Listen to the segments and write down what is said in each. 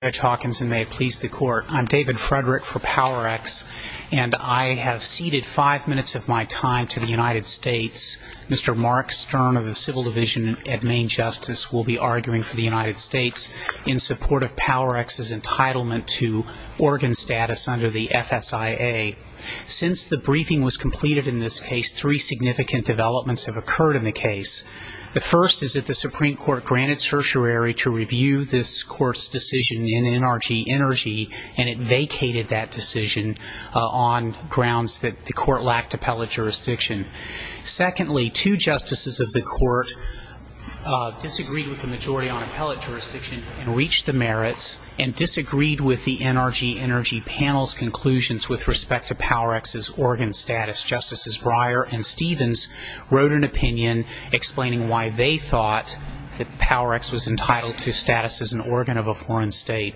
Judge Hawkins, and may it please the Court, I'm David Frederick for Powerex, and I have ceded five minutes of my time to the United States. Mr. Mark Stern of the Civil Division at Main Justice will be arguing for the United States in support of Powerex's entitlement to organ status under the FSIA. Since the briefing was completed in this case, three significant developments have occurred in the case. The first is that the Supreme Court granted certiorari to review this Court's decision in NRG Energy, and it vacated that decision on grounds that the Court lacked appellate jurisdiction. Secondly, two justices of the Court disagreed with the majority on appellate jurisdiction and reached the merits and disagreed with the NRG Energy panel's conclusions with respect to Powerex's organ status. Justices Breyer and Stevens wrote an opinion explaining why they thought that Powerex was entitled to status as an organ of a foreign state.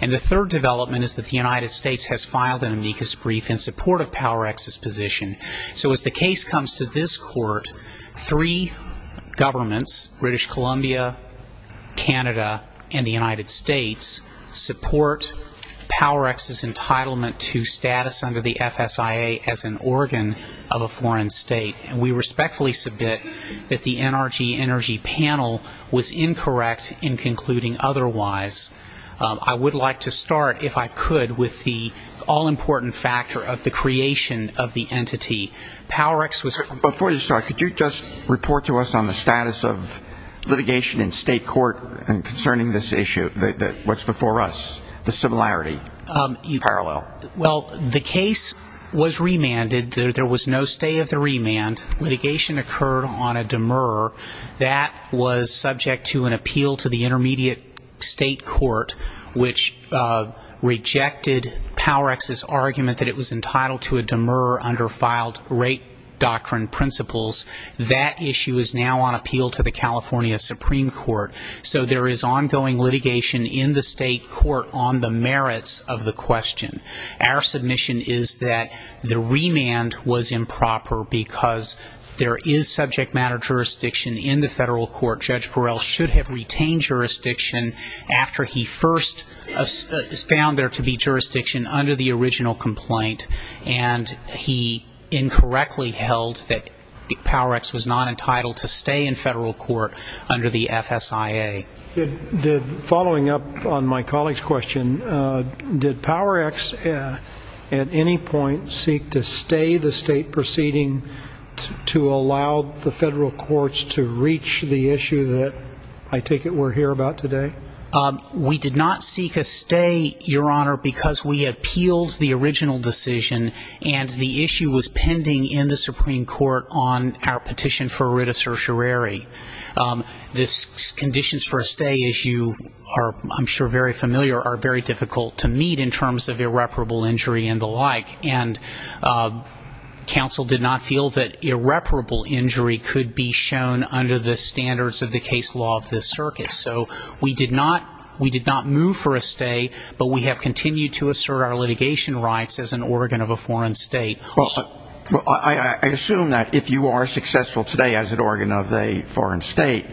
And the third development is that the United States has filed an amicus brief in support of Powerex's position. So as the case comes to this Court, three governments, British Columbia, Canada, and the United States support Powerex's entitlement to status under the FSIA as an organ of a foreign state. And we respectfully submit that the NRG Energy panel was incorrect in concluding otherwise. I would like to start, if I could, with the all-important factor of the creation of the entity. Powerex was ‑‑ Before you start, could you just report to us on the status of litigation in state court concerning this issue, what's before us, the similarity, the parallel? Well, the case was remanded. There was no stay of the remand. Litigation occurred on a demurrer. That was subject to an appeal to the Intermediate State Court, which rejected Powerex's argument that it was entitled to a demurrer under filed rate doctrine principles. That issue is now on appeal to the California Supreme Court. So there is ongoing litigation in the state court on the merits of the question. Our submission is that the remand was improper because there is subject matter jurisdiction in the federal court. Judge Burrell should have retained jurisdiction after he first found there to be jurisdiction under the original complaint, and he incorrectly held that Powerex was not entitled to stay in federal court under the FSIA. Following up on my colleague's question, did Powerex at any point seek to stay the state proceeding to allow the federal courts to reach the issue that I take it we're here about today? We did not seek a stay, Your Honor, because we appealed the original decision, and the issue was pending in the Supreme Court on our petition for writ of certiorari. The conditions for a stay, as you are, I'm sure, very familiar, are very difficult to meet in terms of irreparable injury and the like, and counsel did not feel that irreparable injury could be shown under the standards of the case law of this circuit. So we did not move for a stay, but we have continued to assert our litigation rights as an organ of a foreign state. I assume that if you are successful today as an organ of a foreign state,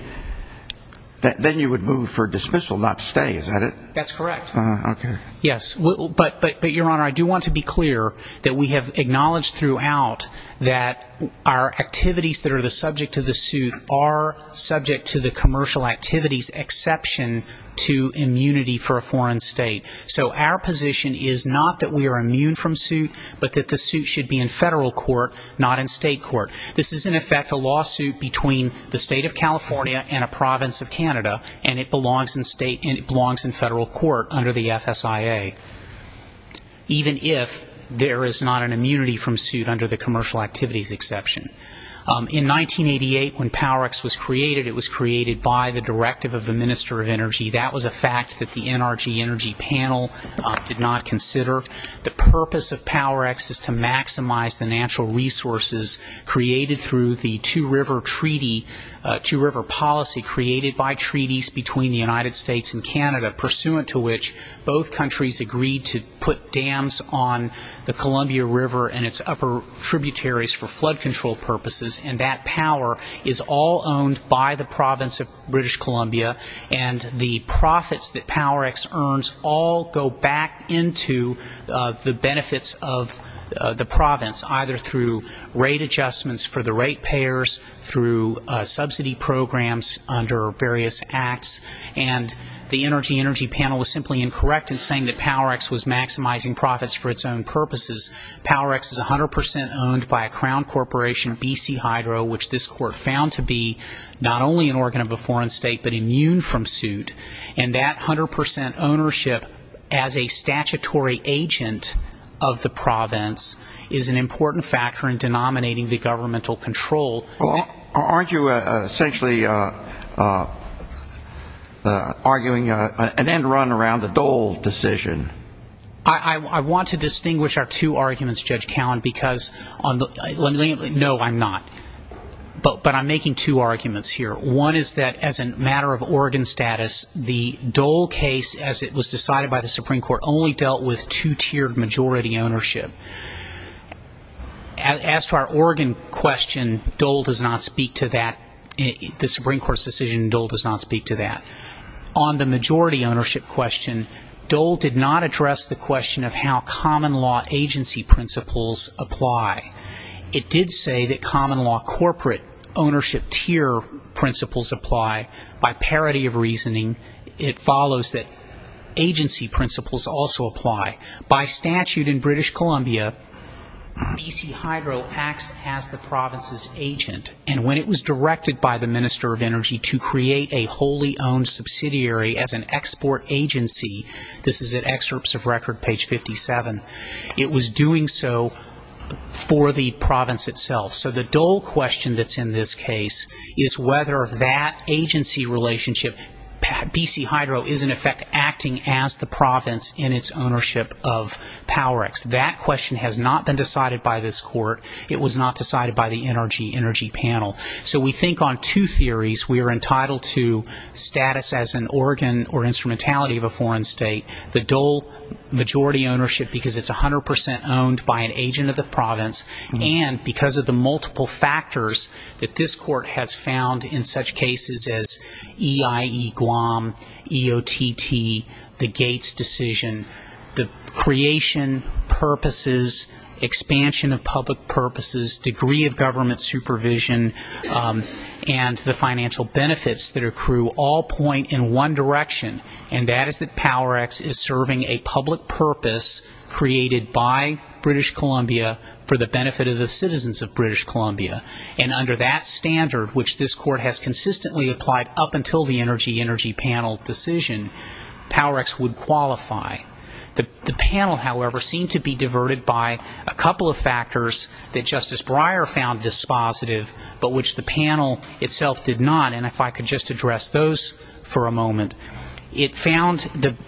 then you would move for dismissal, not stay, is that it? That's correct. Okay. Yes. But, Your Honor, I do want to be clear that we have acknowledged throughout that our activities that are subject to the suit are subject to the commercial activities exception to immunity for a foreign state. So our position is not that we are immune from suit, but that the suit should be in federal court, not in state court. This is, in effect, a lawsuit between the state of California and a province of Canada, and it belongs in federal court under the FSIA, even if there is not an immunity from suit under the commercial activities exception. In 1988, when PowerX was created, it was created by the directive of the Minister of Energy. That was a fact that the NRG Energy Panel did not consider. The purpose of PowerX is to maximize the natural resources created through the Two River Treaty, Two River Policy created by treaties between the United States and Canada, pursuant to which both countries agreed to put dams on the Columbia River and its upper tributaries for flood control purposes. And that power is all owned by the province of British Columbia, and the profits that PowerX earns all go back into the benefits of the province, either through rate adjustments for the rate payers, through subsidy programs under various acts. And the NRG Energy Panel was simply incorrect in saying that PowerX was maximizing profits for its own purposes. PowerX is 100% owned by a crown corporation, BC Hydro, which this court found to be not only an organ of a foreign state, but immune from suit. And that 100% ownership as a statutory agent of the province is an important factor in denominating the governmental control. Aren't you essentially arguing an end run around the Dole decision? I want to distinguish our two arguments, Judge Cowen, because on the no, I'm not. But I'm making two arguments here. One is that as a matter of organ status, the Dole case as it was decided by the Supreme Court only dealt with two-tiered majority ownership. As to our organ question, Dole does not speak to that. The Supreme Court's decision in Dole does not speak to that. On the majority ownership question, Dole did not address the question of how common law agency principles apply. It did say that common law corporate ownership tier principles apply. By parity of reasoning, it follows that agency principles also apply. By statute in British Columbia, BC Hydro acts as the province's agent. And when it was directed by the Minister of Energy to create a wholly owned subsidiary as an export agency, this is at excerpts of record page 57, it was doing so for the province itself. So the Dole question that's in this case is whether that agency relationship, BC Hydro, is in effect acting as the province in its ownership of PowerX. That question has not been decided by this court. It was not decided by the energy panel. So we think on two theories. We are entitled to status as an organ or instrumentality of a foreign state, the Dole majority ownership because it's 100% owned by an agent of the province, and because of the multiple factors that this court has found in such cases as EIE Guam, EOTT, the Gates decision, the creation purposes, expansion of public purposes, degree of government supervision, and the financial benefits that accrue all point in one direction, and that is that PowerX is serving a public purpose created by British Columbia for the benefit of the citizens of British Columbia. And under that standard, which this court has consistently applied up until the energy panel decision, PowerX would qualify. The panel, however, seemed to be diverted by a couple of factors that Justice Breyer found dispositive but which the panel itself did not, and if I could just address those for a moment. It found that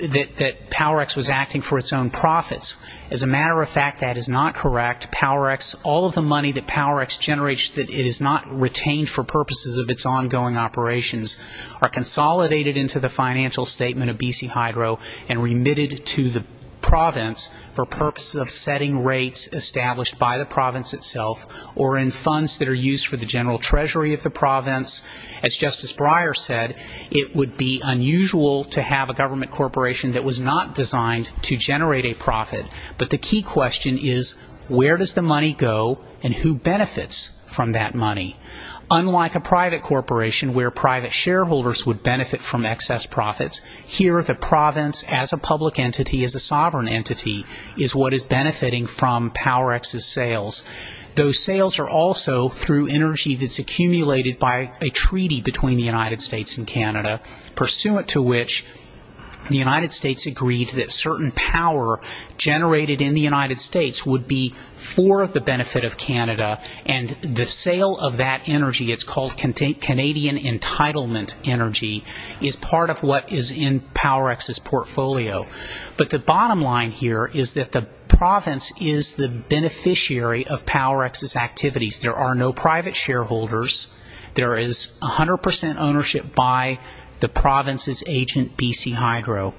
PowerX was acting for its own profits. As a matter of fact, that is not correct. PowerX, all of the money that PowerX generates that is not retained for purposes of its ongoing operations are consolidated into the financial statement of BC Hydro and remitted to the province for purposes of setting rates established by the province itself or in funds that are used for the general treasury of the province. As Justice Breyer said, it would be unusual to have a government corporation that was not designed to generate a profit, but the key question is where does the money go and who benefits from that money? Unlike a private corporation where private shareholders would benefit from excess profits, here the province as a public entity, as a sovereign entity, is what is benefiting from PowerX's sales. Those sales are also through energy that's accumulated by a treaty between the United States and Canada, pursuant to which the United States agreed that certain power generated in the United States would be for the benefit of Canada, and the sale of that energy, it's called Canadian entitlement energy, is part of what is in PowerX's portfolio. But the bottom line here is that the province is the beneficiary of PowerX's activities. There are no private shareholders. There is 100% ownership by the province's agent, BC Hydro.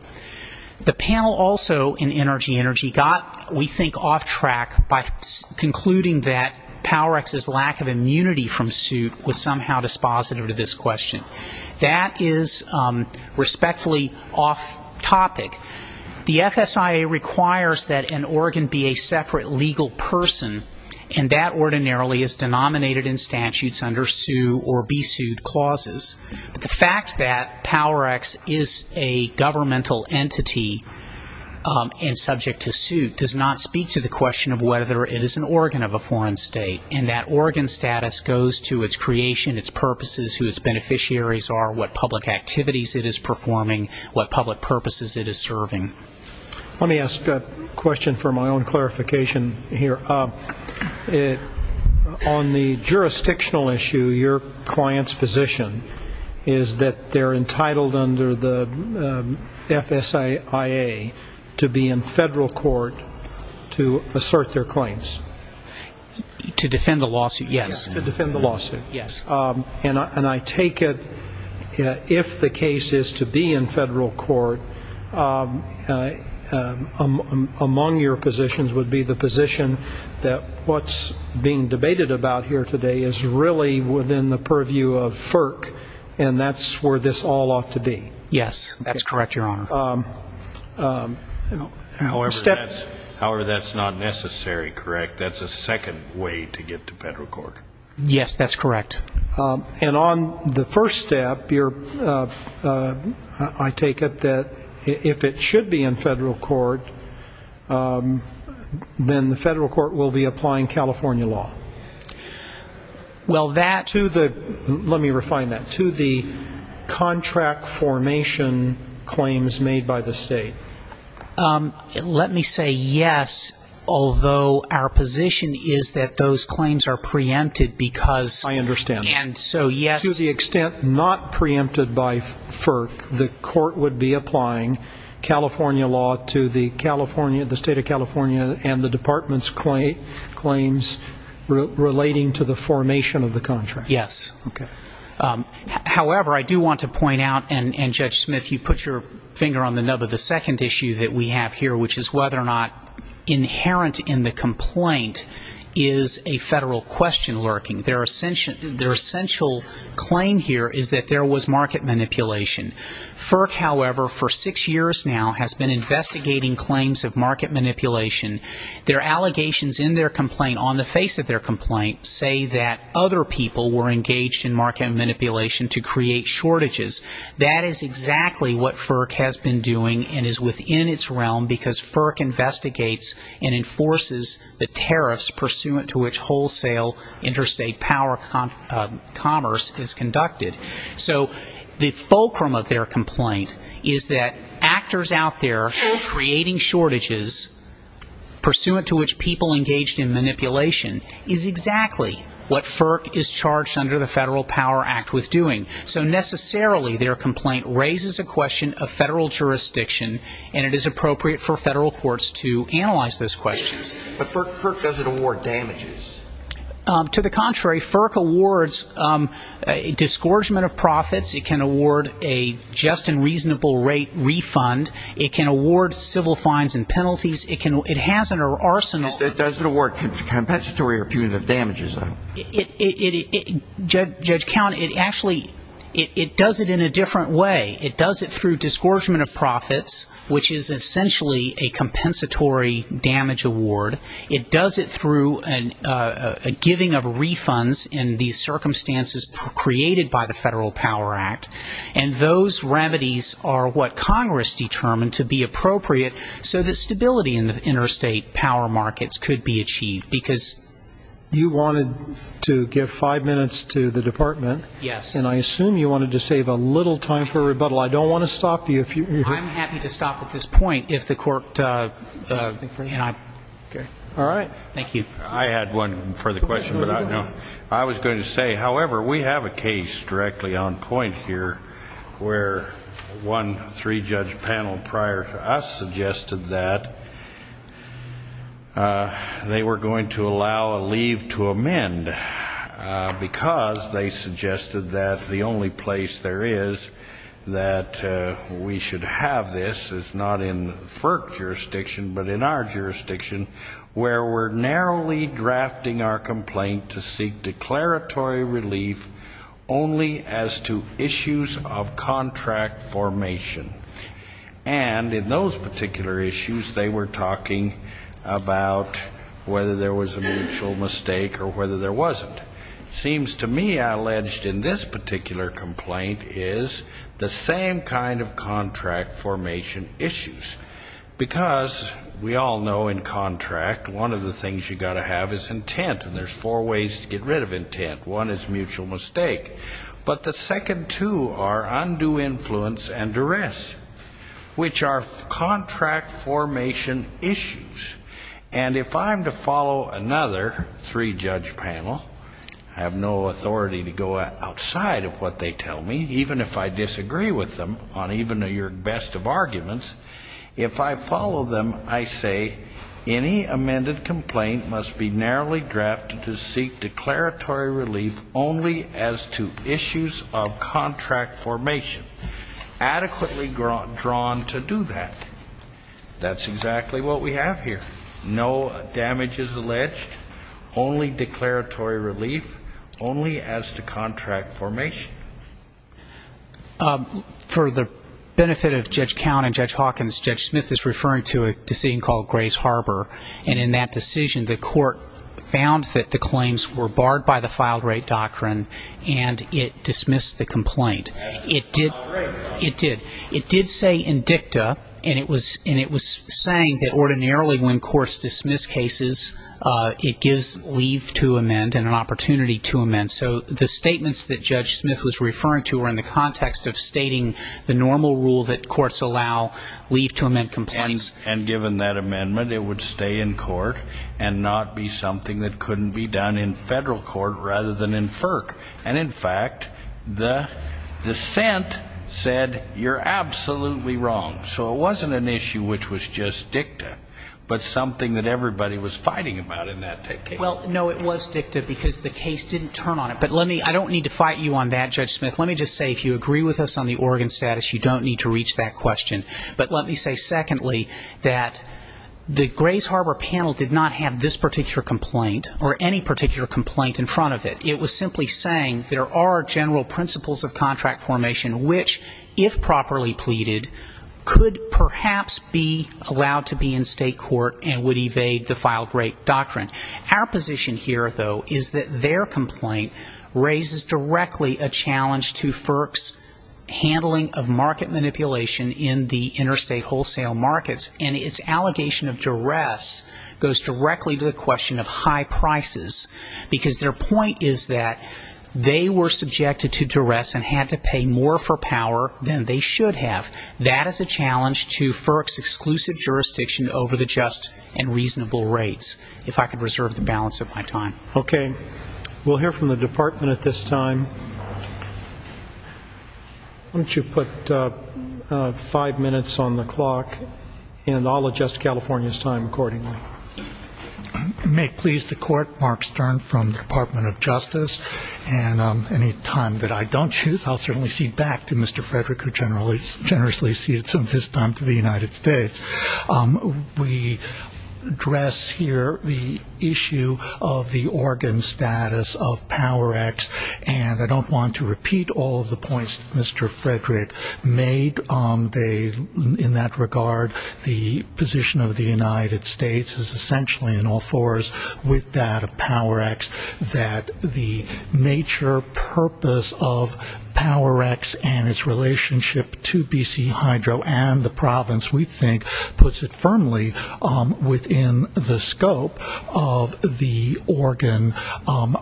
The panel also in Energy Energy got, we think, off track by concluding that PowerX's lack of immunity from suit was somehow dispositive to this question. That is respectfully off topic. The FSIA requires that an organ be a separate legal person, and that ordinarily is denominated in statutes under sue or be sued clauses. But the fact that PowerX is a governmental entity and subject to suit does not speak to the question of whether it is an organ of a foreign state, and that organ status goes to its creation, its purposes, who its beneficiaries are, what public activities it is performing, what public purposes it is serving. Let me ask a question for my own clarification here. On the jurisdictional issue, your client's position is that they are entitled under the FSIA to be in federal court to assert their claims. To defend the lawsuit, yes. To defend the lawsuit. Yes. And I take it if the case is to be in federal court, among your positions would be the position that what's being debated about here today is really within the purview of FERC, and that's where this all ought to be. Yes, that's correct, Your Honor. However, that's not necessary, correct? That's a second way to get to federal court? Yes, that's correct. And on the first step, I take it that if it should be in federal court, then the federal court will be applying California law? Well, that To the, let me refine that, to the contract formation claims made by the state. Let me say yes, although our position is that those claims are preempted because I understand. And so, yes To the extent not preempted by FERC, the court would be applying California law to the California, the state of California, and the department's claims relating to the formation of the contract? Yes. Okay. However, I do want to point out, and Judge Smith, you put your finger on the nub of the second issue that we have here, which is whether or not inherent in the complaint is a federal question lurking. Their essential claim here is that there was market manipulation. FERC, however, for six years now, has been investigating claims of market manipulation. Their allegations in their complaint, on the face of their complaint, say that other people were engaged in market manipulation to create shortages. That is exactly what FERC has been doing and is within its realm because FERC investigates and enforces the tariffs pursuant to which wholesale interstate power commerce is conducted. So the fulcrum of their complaint is that actors out there creating shortages pursuant to which people engaged in manipulation is exactly what FERC is charged under the Federal Power Act with doing. So necessarily, their complaint raises a question of federal jurisdiction, and it is appropriate for federal courts to analyze those questions. But FERC doesn't award damages. To the contrary, FERC awards disgorgement of profits. It can award a just and reasonable rate refund. It can award civil fines and penalties. It has an arsenal. It doesn't award compensatory or punitive damages, though. Judge Count, it actually does it in a different way. It does it through disgorgement of profits, which is essentially a compensatory damage award. It does it through a giving of refunds in these circumstances created by the Federal Power Act. And those remedies are what Congress determined to be appropriate so that stability in the interstate power markets could be achieved because you wanted to give five minutes to the department. Yes. And I assume you wanted to save a little time for rebuttal. I don't want to stop you if you're I'm happy to stop at this point if the court All right. Thank you. I had one further question, but I was going to say, however, we have a case directly on point here where one three judge panel prior to us suggested that they were going to allow a leave to amend because they suggested that the only place there is that we should have this is not in FERC jurisdiction, but in our jurisdiction, where we're narrowly drafting our complaint to seek declaratory relief only as to issues of contract formation. And in those particular issues, they were talking about whether there was a mutual mistake or whether there wasn't. It seems to me I alleged in this particular complaint is the same kind of contract formation issues, because we all know in contract, one of the things you've got to have is intent. And there's four ways to get rid of intent. One is mutual mistake. But the second two are undue influence and duress, which are contract formation issues. And if I'm to follow another three judge panel, I have no authority to go outside of what they tell me, even if I disagree with them on even your best of arguments. If I follow them, I say any amended complaint must be narrowly drafted to seek declaratory relief only as to issues of contract formation, adequately drawn to do that. That's exactly what we have here. No damage is alleged, only declaratory relief, only as to contract formation. For the benefit of Judge Count and Judge Hawkins, Judge Smith is referring to a decision called Grace Harbor. And in that decision, the court found that the claims were barred by the filed rate doctrine, and it dismissed the complaint. It did. It did. It did say indicta, and it was saying that ordinarily when courts dismiss cases, it gives leave to amend and an opportunity to amend. So the statements that Judge Smith was referring to were in the context of stating the normal rule that courts allow leave to amend complaints. And given that amendment, it would stay in court and not be something that couldn't be done in federal court rather than in FERC. And in fact, the dissent said, you're absolutely wrong. So it wasn't an issue which was just dicta, but something that everybody was fighting about in that case. Well, no, it was dicta because the case didn't turn on it. But let me, I don't need to fight you on that, Judge Smith. Let me just say, if you agree with us on the Oregon status, you don't need to reach that question. But let me say, secondly, that the Grace Harbor panel did not have this particular complaint or any particular complaint in front of it. It was simply saying there are general principles of contract formation which, if properly pleaded, could perhaps be allowed to be in state court and would evade the filed rate doctrine. Our position here, though, is that their complaint raises directly a challenge to FERC's handling of market manipulation in the interstate wholesale markets. And its allegation of duress goes directly to the question of high prices. Because their point is that they were subjected to duress and had to pay more for power than they should have. That is a challenge to FERC's exclusive jurisdiction over the just and reasonable rates, if I could reserve the balance of my time. Okay. We'll hear from the Department at this time. Why don't you put five minutes on the clock, and I'll adjust California's time accordingly. I make pleas to court, Mark Stern, from the Department of Justice. And any time that I don't choose, I'll certainly cede back to Mr. Frederick, who generously ceded some of his time to the United States. We address here the issue of the Oregon status of PowerX. And I don't want to repeat all of the points that Mr. Frederick made. In that regard, the position of the United States is essentially in all fours with that of PowerX, that the major purpose of PowerX and its relationship to BC Hydro and the province, we think, puts it firmly within the scope of the Oregon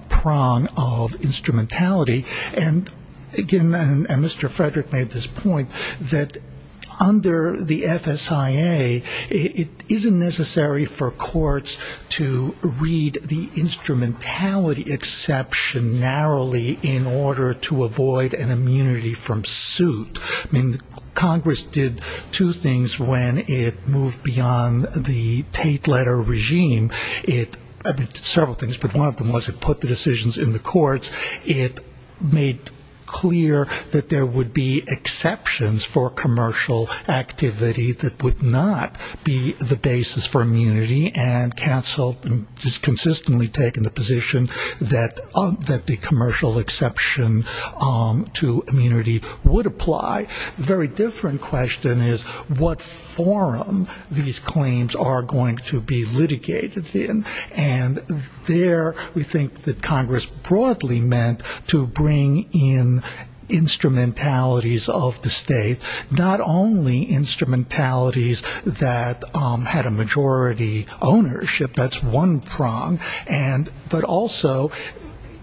prong of instrumentality. And again, Mr. Frederick made this point, that under the FSIA, it isn't necessary for courts to read the instrumentality exception narrowly in order to avoid an immunity from suit. I mean, Congress did two things when it moved beyond the Tate letter regime. It did several things, but one of them was it put the decisions in the courts. It made clear that there would be exceptions for commercial activity that would not be the basis for immunity and canceled and just consistently taken the position that the commercial exception to immunity would apply. Very different question is, what forum these claims are going to be litigated in? And there, we think that Congress broadly meant to bring in instrumentalities of the state, not only instrumentalities that had a majority ownership, that's one prong, but also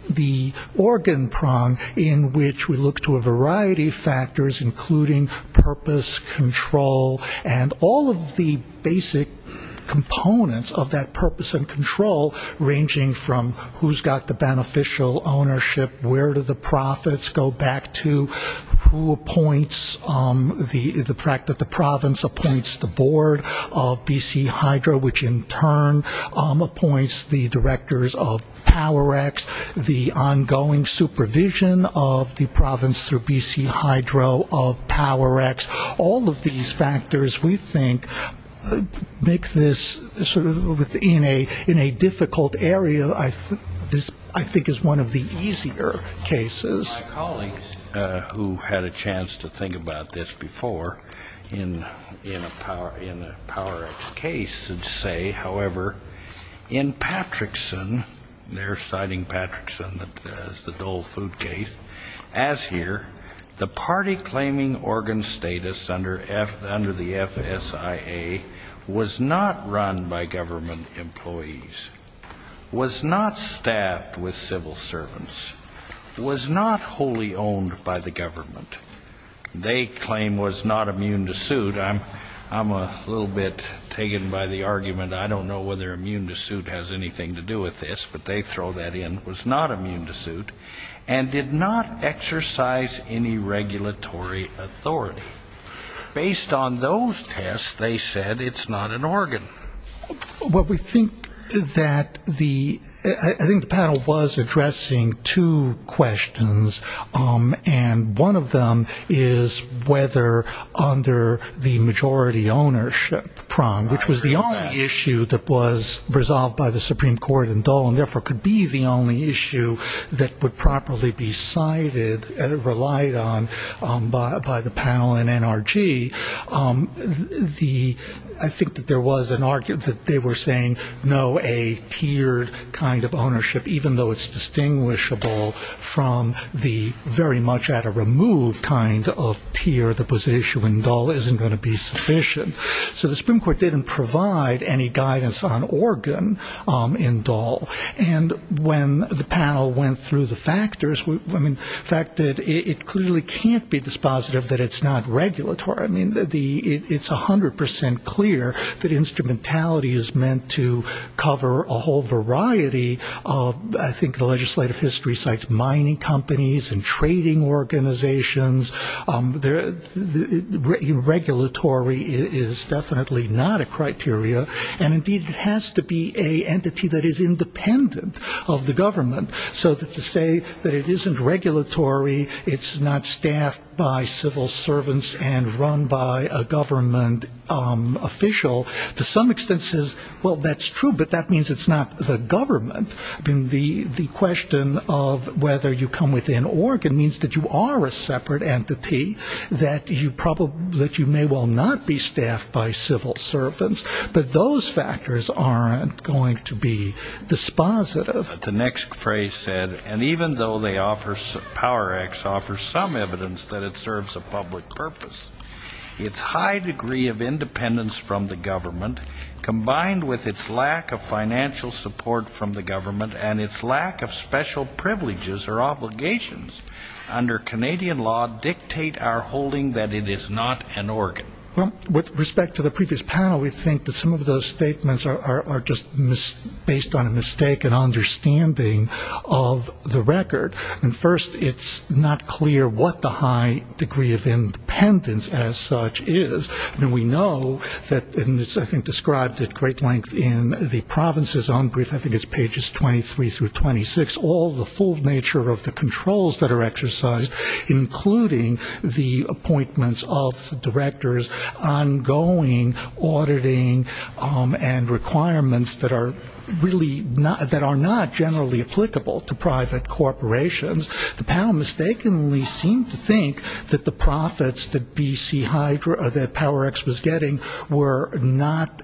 the Oregon prong in which we look to a variety of factors, including purpose, control, and all of the basic components of that purpose and control ranging from who's got the beneficial ownership, where do the profits go back to, who appoints, the fact that the province appoints the board of BC Hydro, which in turn appoints the directors of Power X, the ongoing supervision of the province through BC Hydro of Power X, all of these factors, we think, make this sort of in a difficult area, I think is one of the easier cases. My colleagues who had a chance to think about this before in a Power X case would say, however, in Patrickson, they're citing Patrickson as the Dole food case, as here, the party claiming Oregon status under the FSIA was not run by government employees, was not staffed with civil servants, was not wholly owned by the government. They claim was not immune to suit. I don't know whether immune to suit has anything to do with this, but they throw that in, was not immune to suit, and did not exercise any regulatory authority. Based on those tests, they said it's not an Oregon. What we think that the, I think the panel was addressing two questions, and one of them is whether under the majority ownership prong, which was the only issue that was resolved by the Supreme Court in Dole, and therefore could be the only issue that would properly be cited and relied on by the panel in NRG, the, I think that there was an argument that they were saying, no, a tiered kind of ownership, even though it's distinguishable from the very much at a removed kind of tier that was an issue in Dole, isn't going to be sufficient. So the Supreme Court didn't provide any guidance on Oregon in Dole, and when the panel went through the factors, I mean, the fact that it clearly can't be dispositive that it's not regulatory. I mean, the, it's 100% clear that instrumentality is meant to cover a whole variety of, I think, the legislative history sites, mining companies and trading organizations. Regulatory is definitely not a criteria, and indeed it has to be a entity that is independent of the government. So to say that it isn't regulatory, it's not staffed by civil servants and run by a government official, to some extent says, well, that's true, but that means it's not the government. I mean, the question of whether you come within Oregon means that you are a separate entity, that you probably, that you may well not be staffed by civil servants, but those factors aren't going to be dispositive. The next phrase said, and even though they offer, Power X offers some evidence that it serves a public purpose, its high degree of independence from the government, combined with its lack of financial support from the government and its lack of special privileges or obligations under Canadian law dictate our holding that it is not an organ. Well, with respect to the previous panel, we think that some of those statements are just based on a mistake in understanding of the record. And first, it's not clear what the high degree of independence as such is. We know that, and it's, I think, described at great length in the province's own brief, I think it's pages 23 through 26, all the full nature of the controls that are exercised, including the appointments of directors, ongoing auditing, and requirements that are really, that are not generally applicable to private corporations. The panel mistakenly seemed to think that the profits that BC Hydro, that Power X was getting were not,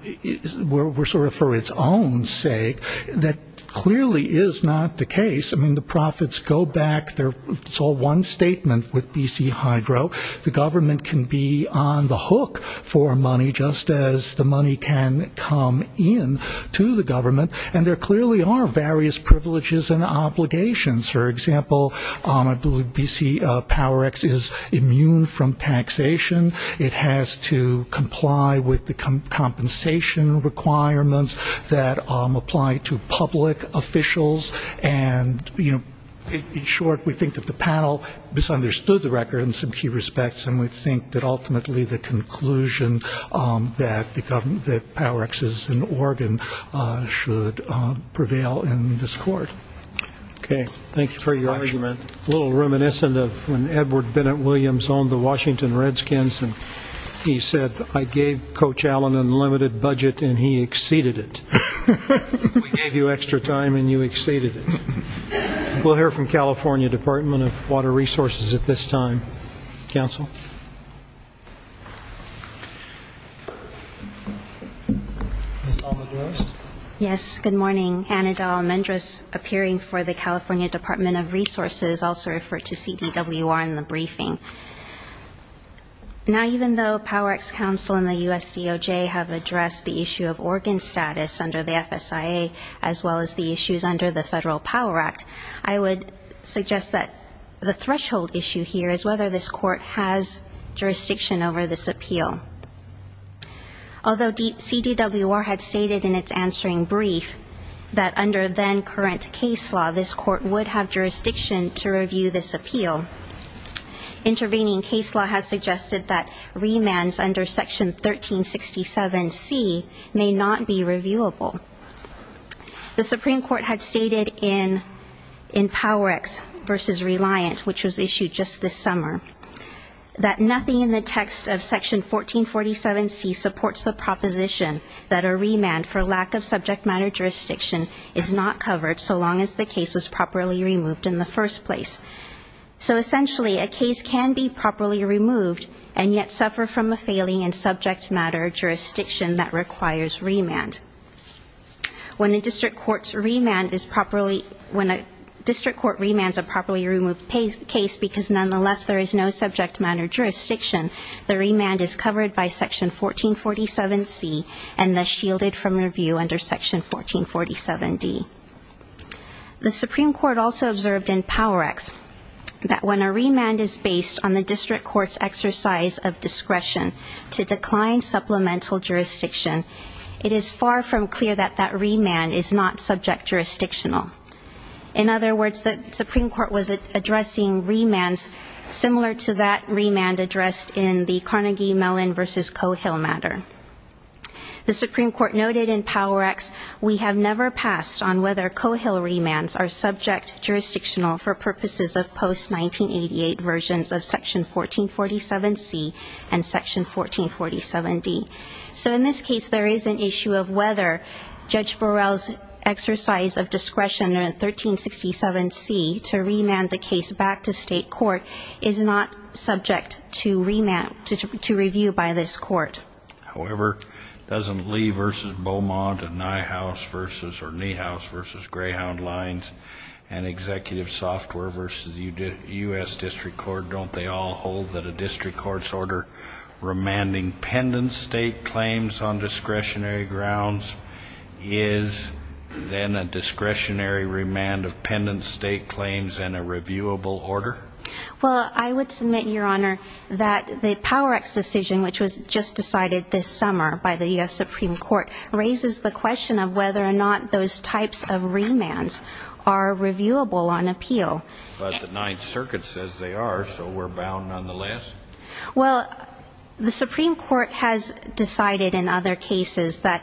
were sort of for its own sake. That clearly is not the case. I mean, the profits go back, it's all one statement with BC Hydro. The government can be on the hook for money, just as the money can come in to the government. And there clearly are various privileges and obligations. For example, I believe BC Power X is immune from taxation. It has to comply with the compensation requirements that apply to public officials, and in short, we think that the panel misunderstood the record in some key respects, and we think that ultimately the conclusion that Power X is an organ should prevail in this court. Okay, thank you for your argument. A little reminiscent of when Edward Bennett Williams owned the Washington Redskins, and he said, I gave Coach Allen an unlimited budget and he exceeded it. We gave you extra time and you exceeded it. We'll hear from California Department of Water Resources at this time. Counsel? Ms. Almendrez? Yes. Good morning. I'm Hannah Dahl Almendrez, appearing for the California Department of Resources, also referred to CDWR in the briefing. Now even though Power X counsel and the USDOJ have addressed the issue of organ status under the FSIA, as well as the issues under the Federal Power Act, I would suggest that the threshold issue here is whether this court has jurisdiction over this appeal. Although CDWR had stated in its answering brief that under then current case law, this court would have jurisdiction to review this appeal, intervening case law has suggested that remands under Section 1367C may not be reviewable. The Supreme Court had stated in Power X v. Reliant, which was issued just this summer, that nothing in the text of Section 1447C supports the proposition that a remand for lack of subject matter jurisdiction is not covered so long as the case was properly removed in the first place. So essentially, a case can be properly removed and yet suffer from a failing in subject matter jurisdiction that requires remand. When a district court remands a properly removed case because nonetheless there is no subject matter jurisdiction, the remand is covered by Section 1447C and thus shielded from review under Section 1447D. The Supreme Court also observed in Power X that when a remand is based on the district court's exercise of discretion to decline supplemental jurisdiction, it is far from clear that that remand is not subject jurisdictional. In other words, the Supreme Court was addressing remands similar to that remand addressed in the Carnegie-Mellon v. Coe-Hill matter. The Supreme Court noted in Power X, we have never passed on whether Coe-Hill remands are subject jurisdictional for purposes of post-1988 versions of Section 1447C and Section 1447D. So in this case, there is an issue of whether Judge Burrell's exercise of discretion under 1367C to remand the case back to state court is not subject to review by this court. However, doesn't Lee v. Beaumont and Niehaus v. Greyhound Lines and Executive Software v. U.S. District Court, don't they all hold that a district court's order remanding pendent state claims on discretionary grounds is then a discretionary remand of pendent state claims and a reviewable order? Well, I would submit, Your Honor, that the Power X decision, which was just decided this summer by the U.S. Supreme Court, raises the question of whether or not those types of remands are reviewable on appeal. But the Ninth Circuit says they are, so we're bound nonetheless. Well, the Supreme Court has decided in other cases that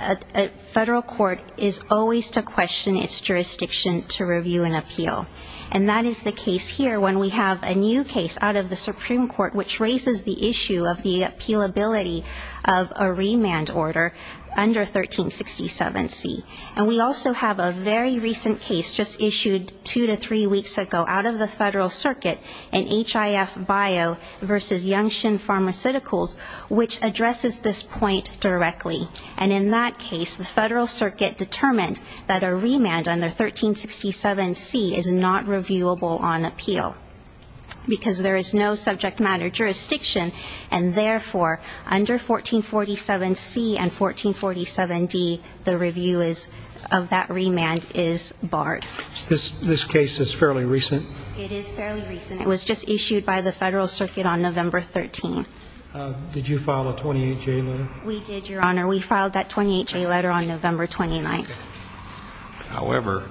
a federal court is always to question its jurisdiction to review an appeal. And that is the case here when we have a new case out of the Supreme Court which raises the issue of the appealability of a remand order under 1367C. And we also have a very recent case just issued two to three weeks ago out of the Federal F. Bio v. Youngshin Pharmaceuticals which addresses this point directly. And in that case, the Federal Circuit determined that a remand under 1367C is not reviewable on appeal because there is no subject matter jurisdiction. And therefore, under 1447C and 1447D, the review of that remand is barred. This case is fairly recent? It is fairly recent. It was just issued by the Federal Circuit on November 13th. Did you file a 28-J letter? We did, Your Honor. We filed that 28-J letter on November 29th. However,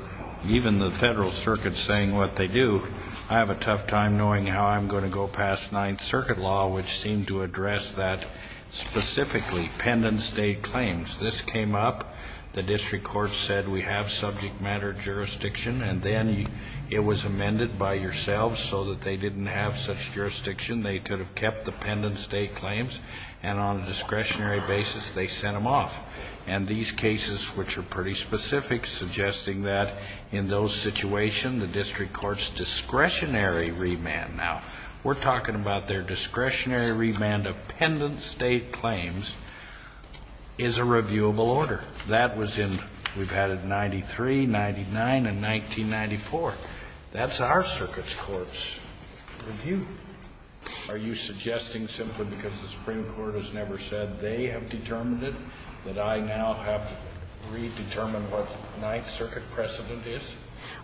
even the Federal Circuit saying what they do, I have a tough time knowing how I'm going to go past Ninth Circuit law which seemed to address that specifically, pendent state claims. This came up, the district court said we have subject matter jurisdiction, and then it was that they didn't have such jurisdiction. They could have kept the pendent state claims, and on a discretionary basis, they sent them off. And these cases, which are pretty specific, suggesting that in those situations, the district court's discretionary remand, now, we're talking about their discretionary remand of pendent state claims, is a reviewable order. That was in, we've had it in 93, 99, and 1994. That's our circuit's court's review. Are you suggesting simply because the Supreme Court has never said they have determined it, that I now have to redetermine what Ninth Circuit precedent is?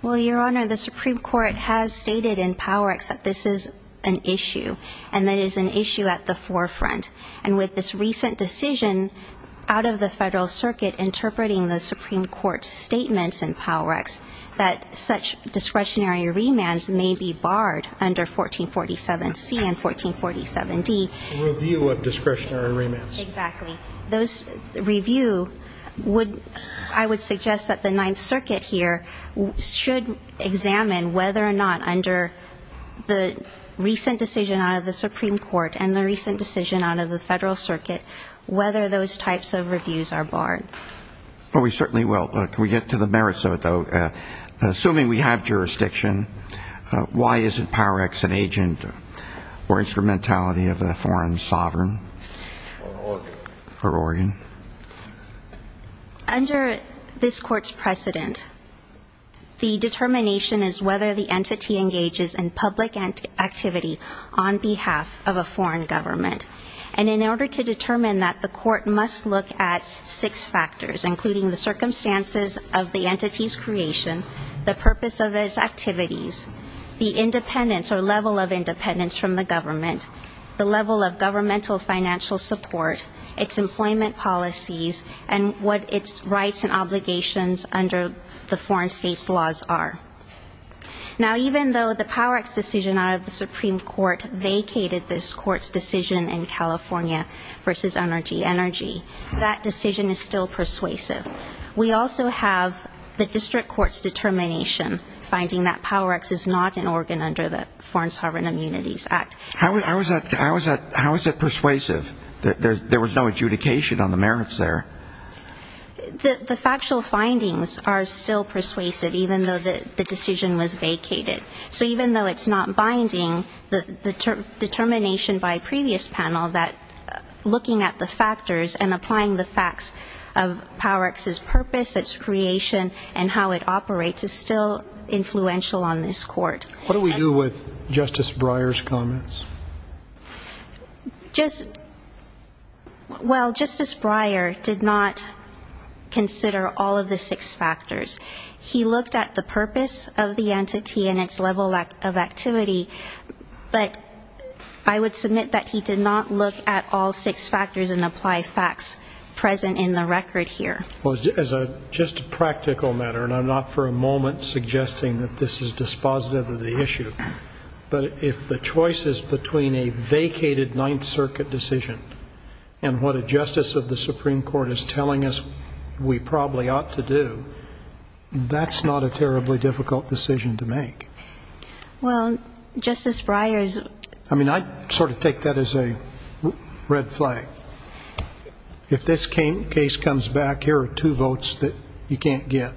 Well, Your Honor, the Supreme Court has stated in PowerEx that this is an issue, and that it is an issue at the forefront. And with this recent decision out of the Federal Circuit interpreting the Supreme Court's statements in PowerEx, that such discretionary remands may be barred under 1447C and 1447D. Review of discretionary remands. Exactly. Those review would, I would suggest that the Ninth Circuit here should examine whether or not under the recent decision out of the Supreme Court, and the recent decision out of the Federal Circuit, whether those types of reviews are barred. We certainly will. Can we get to the merits of it, though? Assuming we have jurisdiction, why isn't PowerEx an agent or instrumentality of a foreign sovereign? Or organ. Or organ. Under this court's precedent, the determination is whether the entity engages in public activity on behalf of a foreign government. And in order to determine that, the court must look at six factors, including the circumstances of the entity's creation, the purpose of its activities, the independence or level of independence from the government, the level of governmental financial support, its employment policies, and what its rights and obligations under the foreign state's laws are. Now, even though the PowerEx decision out of the Supreme Court vacated this court's decision in California versus NRG Energy, that decision is still persuasive. We also have the district court's determination finding that PowerEx is not an organ under the Foreign Sovereign Immunities Act. How is that persuasive? There was no adjudication on the merits there. The factual findings are still persuasive, even though the decision was vacated. So even though it's not binding, the determination by previous panel that looking at the factors and applying the facts of PowerEx's purpose, its creation, and how it operates is still influential on this court. What do we do with Justice Breyer's comments? Just, well, Justice Breyer did not consider all of the six factors. He looked at the purpose of the entity and its level of activity, but I would submit that he did not look at all six factors and apply facts present in the record here. As a just practical matter, and I'm not for a moment suggesting that this is dispositive of the issue, but if the choices between a vacated Ninth Circuit decision and what a that's not a terribly difficult decision to make. Well, Justice Breyer's, I mean, I sort of take that as a red flag. If this case comes back, here are two votes that you can't get.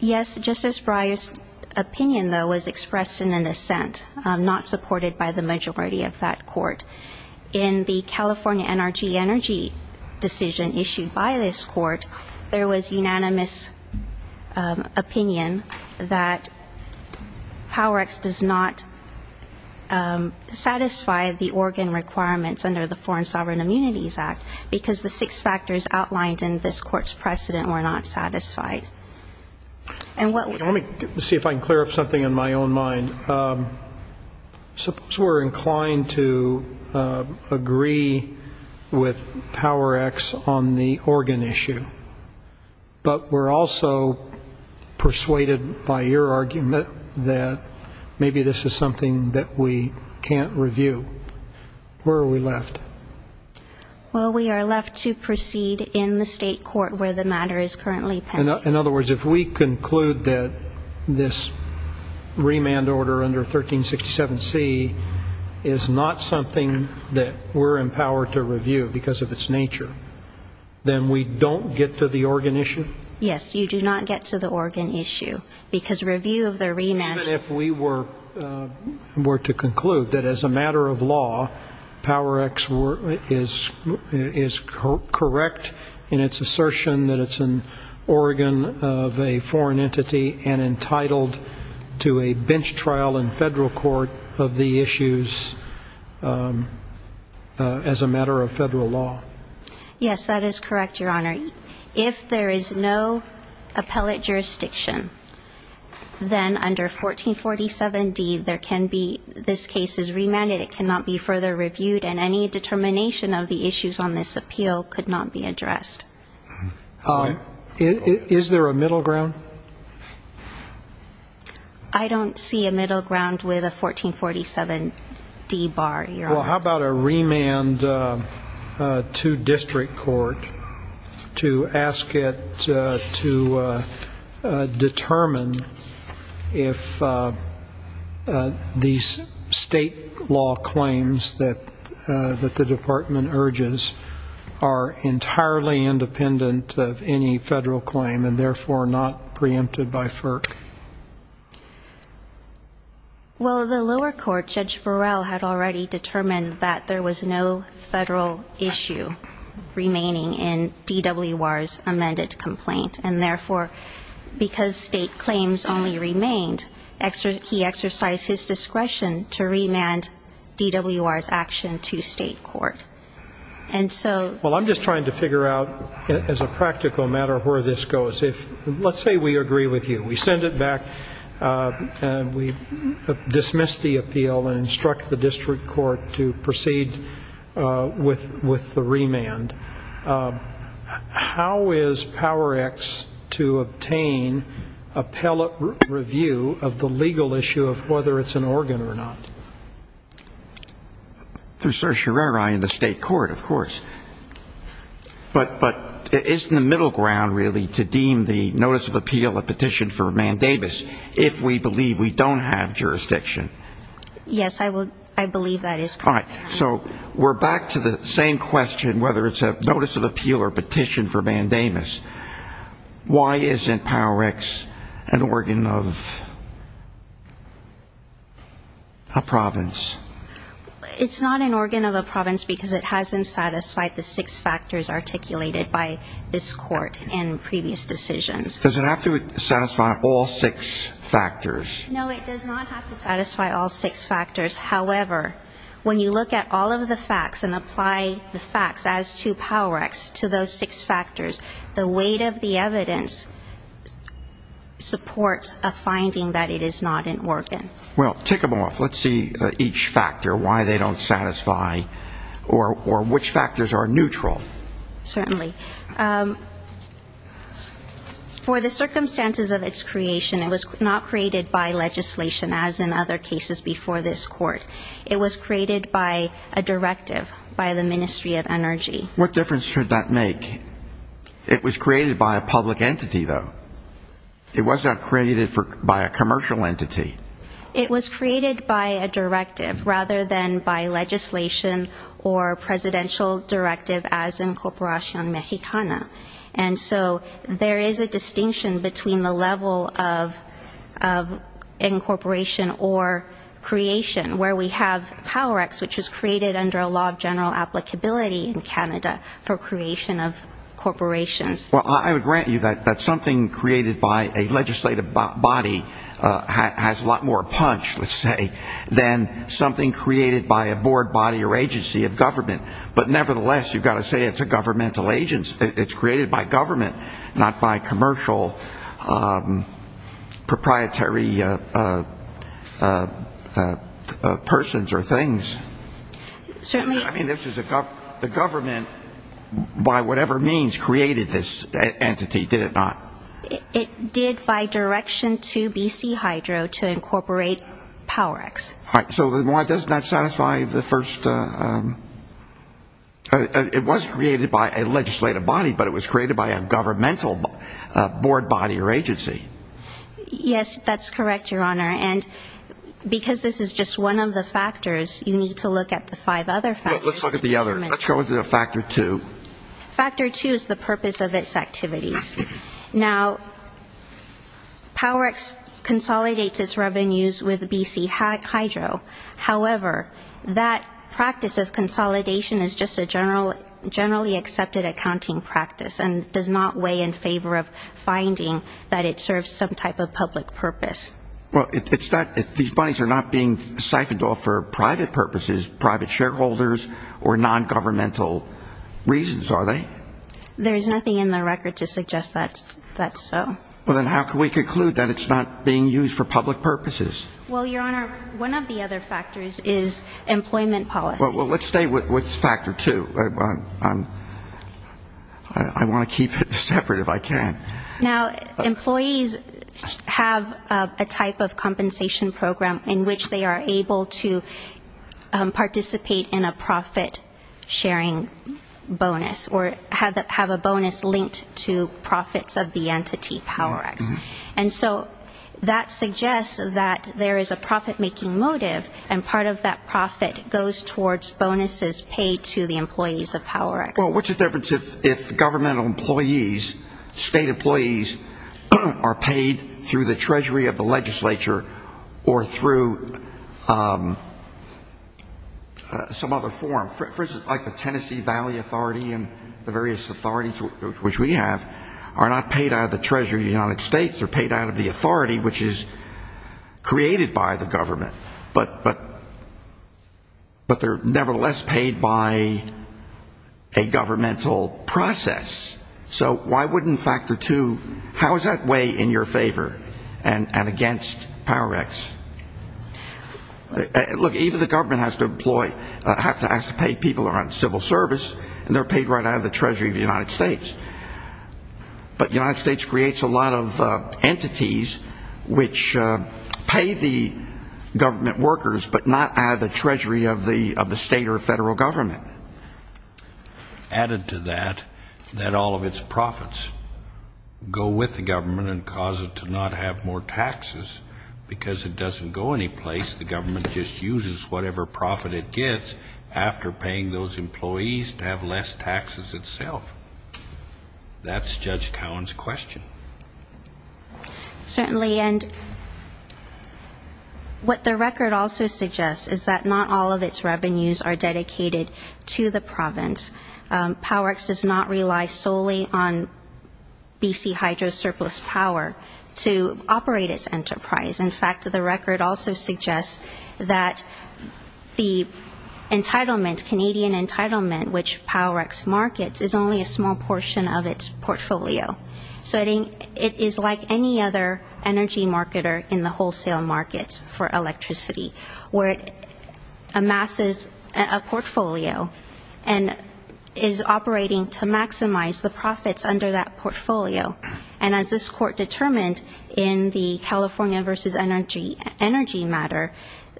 Yes, Justice Breyer's opinion, though, was expressed in an assent, not supported by the majority of that court. In the California NRG energy decision issued by this court, there was unanimous opinion that PowerEx does not satisfy the organ requirements under the Foreign Sovereign Immunities Act because the six factors outlined in this court's precedent were not satisfied. And what Let me see if I can clear up something in my own mind. Suppose we're inclined to agree with PowerEx on the organ issue, but we're also persuaded by your argument that maybe this is something that we can't review. Where are we left? Well, we are left to proceed in the state court where the matter is currently pending. In other words, if we conclude that this remand order under 1367C is not something that we're empowered to review because of its nature, then we don't get to the organ issue? Yes, you do not get to the organ issue because review of the remand Even if we were to conclude that as a matter of law, PowerEx is correct in its assertion that it's an organ of a foreign entity and entitled to a bench trial in federal court of the issues as a matter of federal law. Yes, that is correct, Your Honor. If there is no appellate jurisdiction, then under 1447D, there can be, this case is remanded, it cannot be further reviewed, and any determination of the issues on this appeal could not be addressed. Is there a middle ground? I don't see a middle ground with a 1447D bar, Your Honor. Well, how about a remand to district court to ask it to determine if these state law claims that the department urges are entirely independent of any federal claim and therefore not preempted by FERC? Well, the lower court, Judge Burrell, had already determined that there was no federal issue remaining in DWR's amended complaint, and therefore, because state claims only remained, he exercised his discretion to remand DWR's action to state court. Well, I'm just trying to figure out, as a practical matter, where this goes. Let's say we agree with you. We send it back and we dismiss the appeal and instruct the district court to proceed with the remand. How is Power X to obtain appellate review of the legal issue of whether it's an organ or not? Through certiorari in the state court, of course, but isn't the middle ground really to deem the notice of appeal a petition for mandamus if we believe we don't have jurisdiction? Yes, I believe that is correct. All right, so we're back to the same question, whether it's a notice of appeal or petition for mandamus. Why isn't Power X an organ of a province? It's not an organ of a province because it hasn't satisfied the six factors articulated by this court in previous decisions. Does it have to satisfy all six factors? No, it does not have to satisfy all six factors. However, when you look at all of the facts and apply the facts as to Power X to those six factors, the weight of the evidence supports a finding that it is not an organ. Well, tick them off. Let's see each factor, why they don't satisfy or which factors are neutral. Certainly. For the circumstances of its creation, it was not created by legislation as in other cases before this court. It was created by a directive by the Ministry of Energy. What difference should that make? It was created by a public entity, though. It was not created by a commercial entity. It was created by a directive rather than by legislation or presidential directive as Incorporacion Mexicana. And so there is a distinction between the level of incorporation or creation where we have Power X, which was created under a law of general applicability in Canada for creation of corporations. Well, I would grant you that something created by a legislative body has a lot more punch, let's say, than something created by a board body or agency of government. But nevertheless, you've got to say it's a governmental agency. It's created by government, not by commercial proprietary persons or things. Certainly. I mean, the government, by whatever means, created this entity, did it not? It did by direction to BC Hydro to incorporate Power X. So why does that satisfy the first? It was created by a legislative body, but it was created by a governmental board body or agency. Yes, that's correct, Your Honor. And because this is just one of the factors, you need to look at the five other factors. Let's look at the other. Let's go into the factor two. Factor two is the purpose of its activities. Now Power X consolidates its revenues with BC Hydro. However, that practice of consolidation is just a generally accepted accounting practice and does not weigh in favor of finding that it serves some type of public purpose. Well, it's not, these monies are not being siphoned off for private purposes, private shareholders or non-governmental reasons, are they? There's nothing in the record to suggest that that's so. Well, then how can we conclude that it's not being used for public purposes? Well, Your Honor, one of the other factors is employment policies. Well, let's stay with factor two. I want to keep it separate if I can. Now, employees have a type of compensation program in which they are able to participate in a profit sharing bonus or have a bonus linked to profits of the entity Power X. And so that suggests that there is a profit-making motive and part of that profit goes towards bonuses paid to the employees of Power X. Well, what's the difference if governmental employees, state employees, are paid through the treasury of the legislature or through some other form, for instance, like the Tennessee Valley Authority and the various authorities which we have are not paid out of the treasury of the United States. They're paid out of the authority which is created by the government, but they're nevertheless paid by a governmental process. So why wouldn't factor two, how is that way in your favor and against Power X? Look, even the government has to employ, has to pay people who are on civil service and they're paid right out of the treasury of the United States. But the United States creates a lot of entities which pay the government workers but not out of the treasury of the state or federal government. Added to that, that all of its profits go with the government and cause it to not have more taxes because it doesn't go anyplace, the government just uses whatever profit it That's Judge Cowen's question. Certainly and what the record also suggests is that not all of its revenues are dedicated to the province. Power X does not rely solely on BC Hydro's surplus power to operate its enterprise. In fact, the record also suggests that the entitlement, Canadian entitlement, which Power X uses is a portion of its portfolio, so it is like any other energy marketer in the wholesale markets for electricity, where it amasses a portfolio and is operating to maximize the profits under that portfolio. And as this court determined in the California versus energy matter,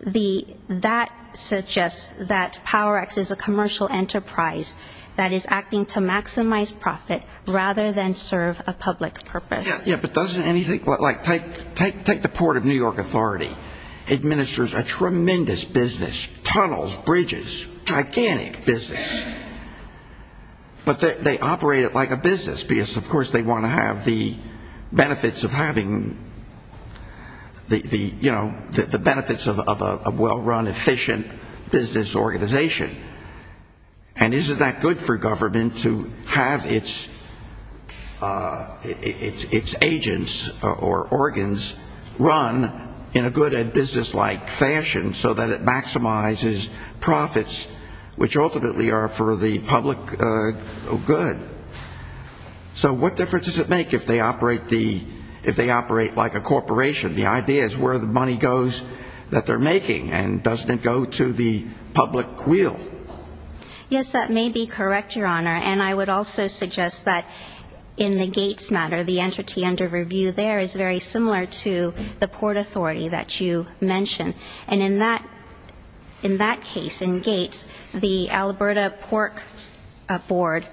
that suggests that Power rather than serve a public purpose. Yeah, but doesn't anything, like take the port of New York Authority, administers a tremendous business, tunnels, bridges, gigantic business. But they operate it like a business because of course they want to have the benefits of having the benefits of a well-run, efficient business organization. And isn't that good for government to have its agents or organs run in a good business-like fashion so that it maximizes profits, which ultimately are for the public good? So what difference does it make if they operate like a corporation? The idea is where the money goes that they're making and doesn't it go to the public will? Yes, that may be correct, Your Honor. And I would also suggest that in the Gates matter, the entity under review there is very similar to the Port Authority that you mentioned. And in that case, in Gates, the Alberta Pork Board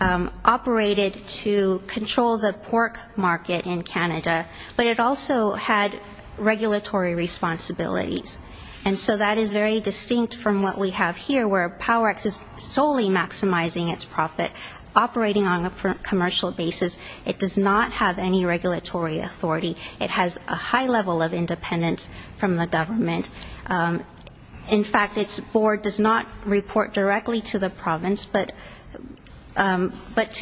operated to control the pork market in Canada, but it also had regulatory responsibilities. And so that is very distinct from what we have here, where PowerX is solely maximizing its profit, operating on a commercial basis. It does not have any regulatory authority. It has a high level of independence from the government. In fact, its board does not report directly to the province, but to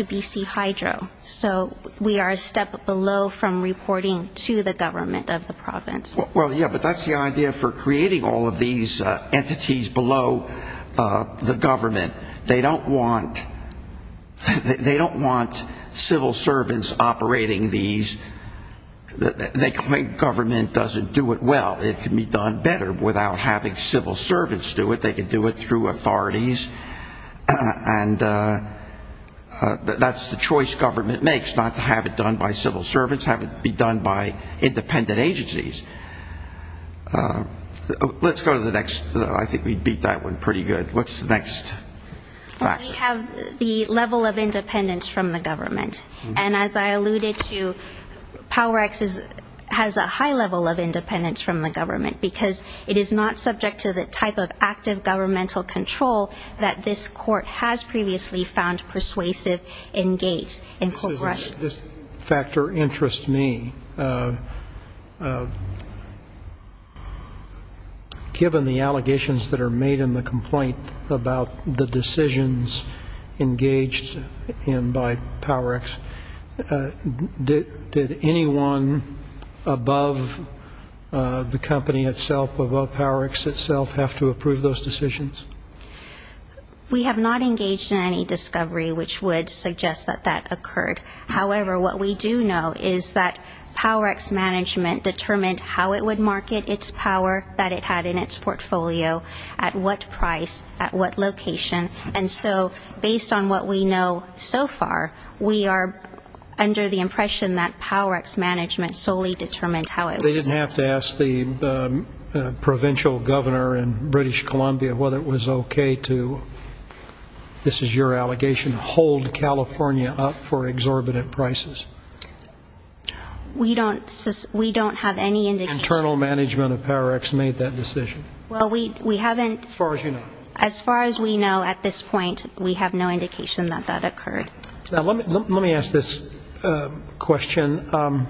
BC Hydro. So we are a step below from reporting to the government of the province. Well, yeah, but that's the idea for creating all of these entities below the government. They don't want civil servants operating these. They claim government doesn't do it well. It can be done better without having civil servants do it. They can do it through authorities. And that's the choice government makes, not to have it done by civil servants, have it be done by independent agencies. Let's go to the next. I think we beat that one pretty good. What's the next factor? We have the level of independence from the government. And as I alluded to, PowerX has a high level of independence from the government because it is not subject to the type of active governmental control that this court has previously found persuasive in Gates. This factor interests me. Given the allegations that are made in the complaint about the decisions engaged in by PowerX, did anyone above the company itself, above PowerX itself, have to approve those decisions? We have not engaged in any discovery which would suggest that that occurred. However, what we do know is that PowerX management determined how it would market its power that it had in its portfolio, at what price, at what location. And so based on what we know so far, we are under the impression that PowerX management solely determined how it was. They didn't have to ask the provincial governor in British Columbia whether it was okay to, this is your allegation, hold California up for exorbitant prices. We don't have any indication. Internal management of PowerX made that decision. Well, we haven't. As far as you know. As far as we know at this point, we have no indication that that occurred. Let me ask this question.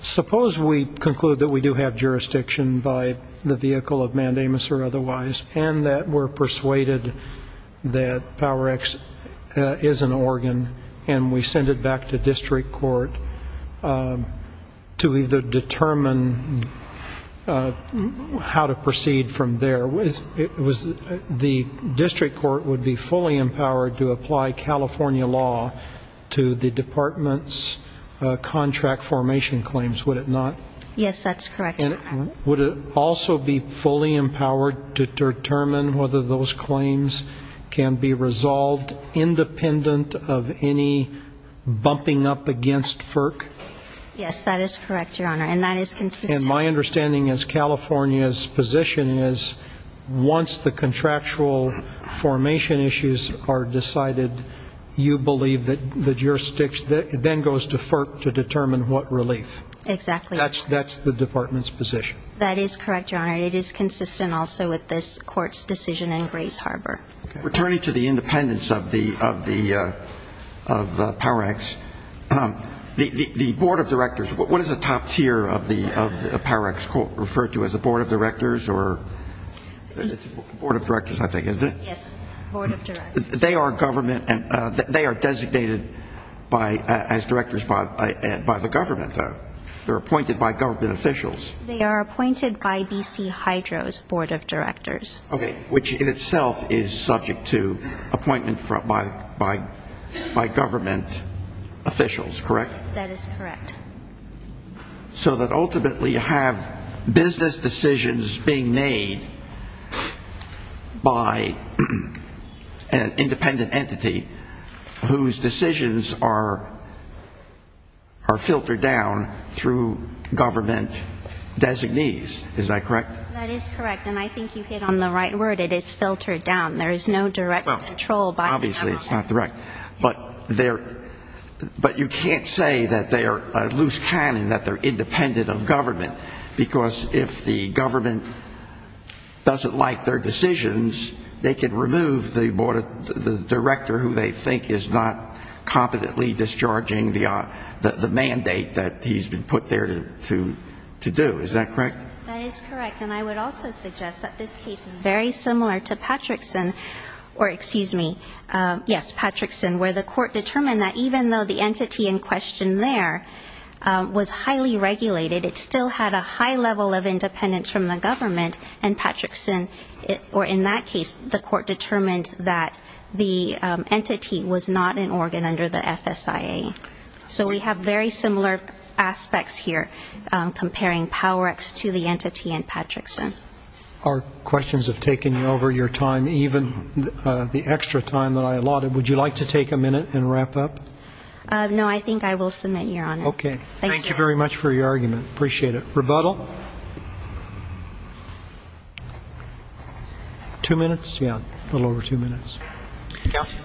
Suppose we conclude that we do have jurisdiction by the vehicle of Mandamus or otherwise and that we're persuaded that PowerX is an organ and we send it back to district court to either determine how to proceed from there. The district court would be fully empowered to apply California law to the department's contract formation claims, would it not? Yes, that's correct. And would it also be fully empowered to determine whether those claims can be resolved independent of any bumping up against FERC? Yes, that is correct, Your Honor, and that is consistent. And my understanding is California's position is once the contractual formation issues are decided, you believe that the jurisdiction then goes to FERC to determine what relief. Exactly. That's the department's position. That is correct, Your Honor. It is consistent also with this court's decision in Grays Harbor. Returning to the independence of PowerX, the board of directors, what is the top tier of PowerX referred to as a board of directors? It's a board of directors, I think, isn't it? Yes, a board of directors. They are designated as directors by the government, though. They're appointed by government officials. They are appointed by B.C. Hydro's board of directors. Okay, which in itself is subject to appointment by government officials, correct? That is correct. So that ultimately you have business decisions being made by an independent entity whose decisions are filtered down through government designees. Is that correct? That is correct, and I think you hit on the right word. It is filtered down. There is no direct control by the government. Obviously, it's not direct. But you can't say that they are a loose cannon, that they're independent of government, because if the government doesn't like their decisions, they can remove the director who they think is not competently discharging the mandate that he's been put there to do. Is that correct? That is correct, and I would also suggest that this case is very similar to Patrickson, or excuse me, yes, Patrickson, where the court determined that even though the entity in question there was highly regulated, it still had a high level of independence from the government, and Patrickson, or in that case, the court determined that the entity was not an organ under the FSIA. So we have very similar aspects here comparing PowerX to the entity in Patrickson. Our questions have taken over your time, even the extra time that I allotted. Would you like to take a minute and wrap up? No, I think I will submit, Your Honor. Okay, thank you very much for your argument. Appreciate it. Rebuttal? Two minutes? Yeah, a little over two minutes. Counsel?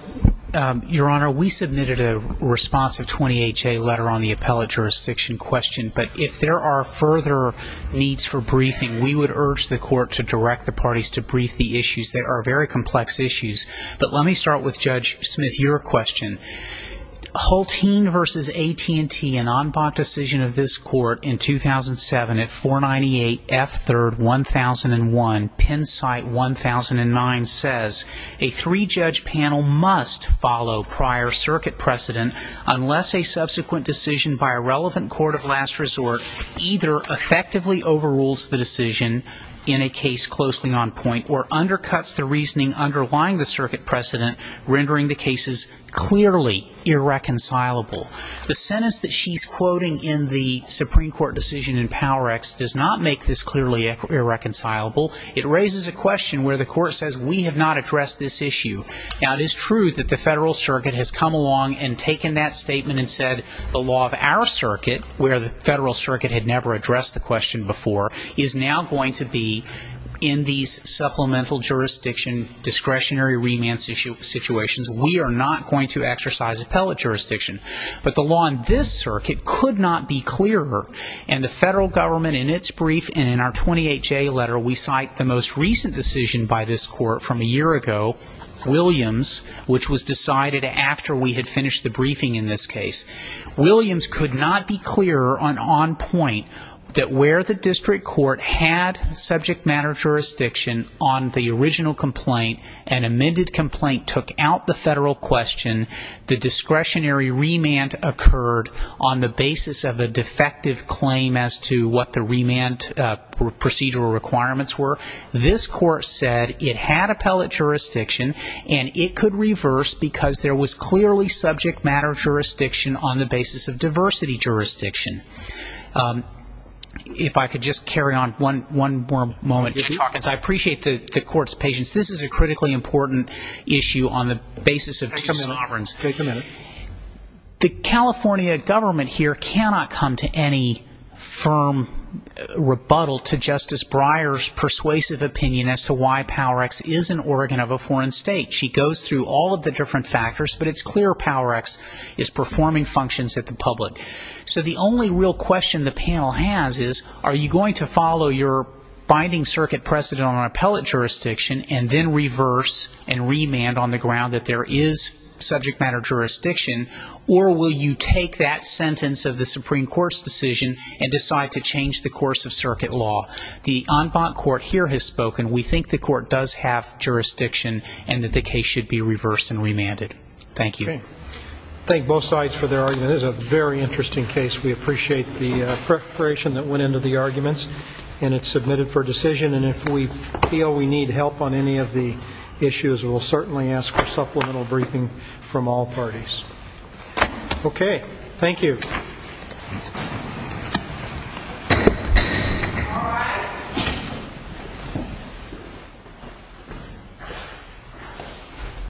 Your Honor, we submitted a responsive 20HA letter on the appellate jurisdiction question, but if there are further needs for briefing, we would urge the court to direct the parties to brief the issues. They are very complex issues. But let me start with Judge Smith, your question. Hultine v. AT&T, an en banc decision of this court in 2007 at 498 F. 3rd, 1001, Penn Site, 1009, says, a three-judge panel must follow prior circuit precedent unless a subsequent decision by a relevant court of last resort either effectively overrules the decision in a case closely on point or undercuts the reasoning underlying the circuit precedent rendering the cases clearly irreconcilable. The sentence that she's quoting in the Supreme Court decision in PowerX does not make this clearly irreconcilable. It raises a question where the court says we have not addressed this issue. Now, it is true that the federal circuit has come along and taken that statement and said the law of our circuit, where the federal circuit had never addressed the question before, is now going to be in these supplemental jurisdiction discretionary remand situations. We are not going to exercise appellate jurisdiction. But the law in this circuit could not be clearer. And the federal government in its brief and in our 28-J letter, we cite the most recent decision by this court from a year ago, Williams, which was decided after we had finished the briefing in this case. Williams could not be clearer on point that where the district court had subject matter jurisdiction on the original complaint and amended complaint took out the federal question, the discretionary remand occurred on the basis of a defective claim as to what the remand procedural requirements were. This court said it had appellate jurisdiction and it could reverse because there was clearly subject matter jurisdiction on the basis of diversity jurisdiction. If I could just carry on one more moment. Judge Hawkins, I appreciate the court's patience. This is a critically important issue on the basis of two sovereigns. The California government here cannot come to any firm rebuttal to Justice Breyer's persuasive opinion as to why PowerX is an organ of a foreign state. She goes through all of the different factors, but it's clear PowerX is performing functions at the public. The only real question the panel has is are you going to follow your binding circuit precedent on appellate jurisdiction and then reverse and remand on the ground that there is subject matter jurisdiction or will you take that sentence of the Supreme Court's decision and decide to change the course of circuit law? The en banc court here has spoken. We think the court does have jurisdiction and that the case should be reversed and remanded. Thank you. Thank both sides for their argument. This is a very interesting case. We appreciate the preparation that went into the arguments and it's submitted for decision and if we feel we need help on any of the issues, we'll certainly ask for supplemental briefing from all parties. Okay, thank you. Thank you.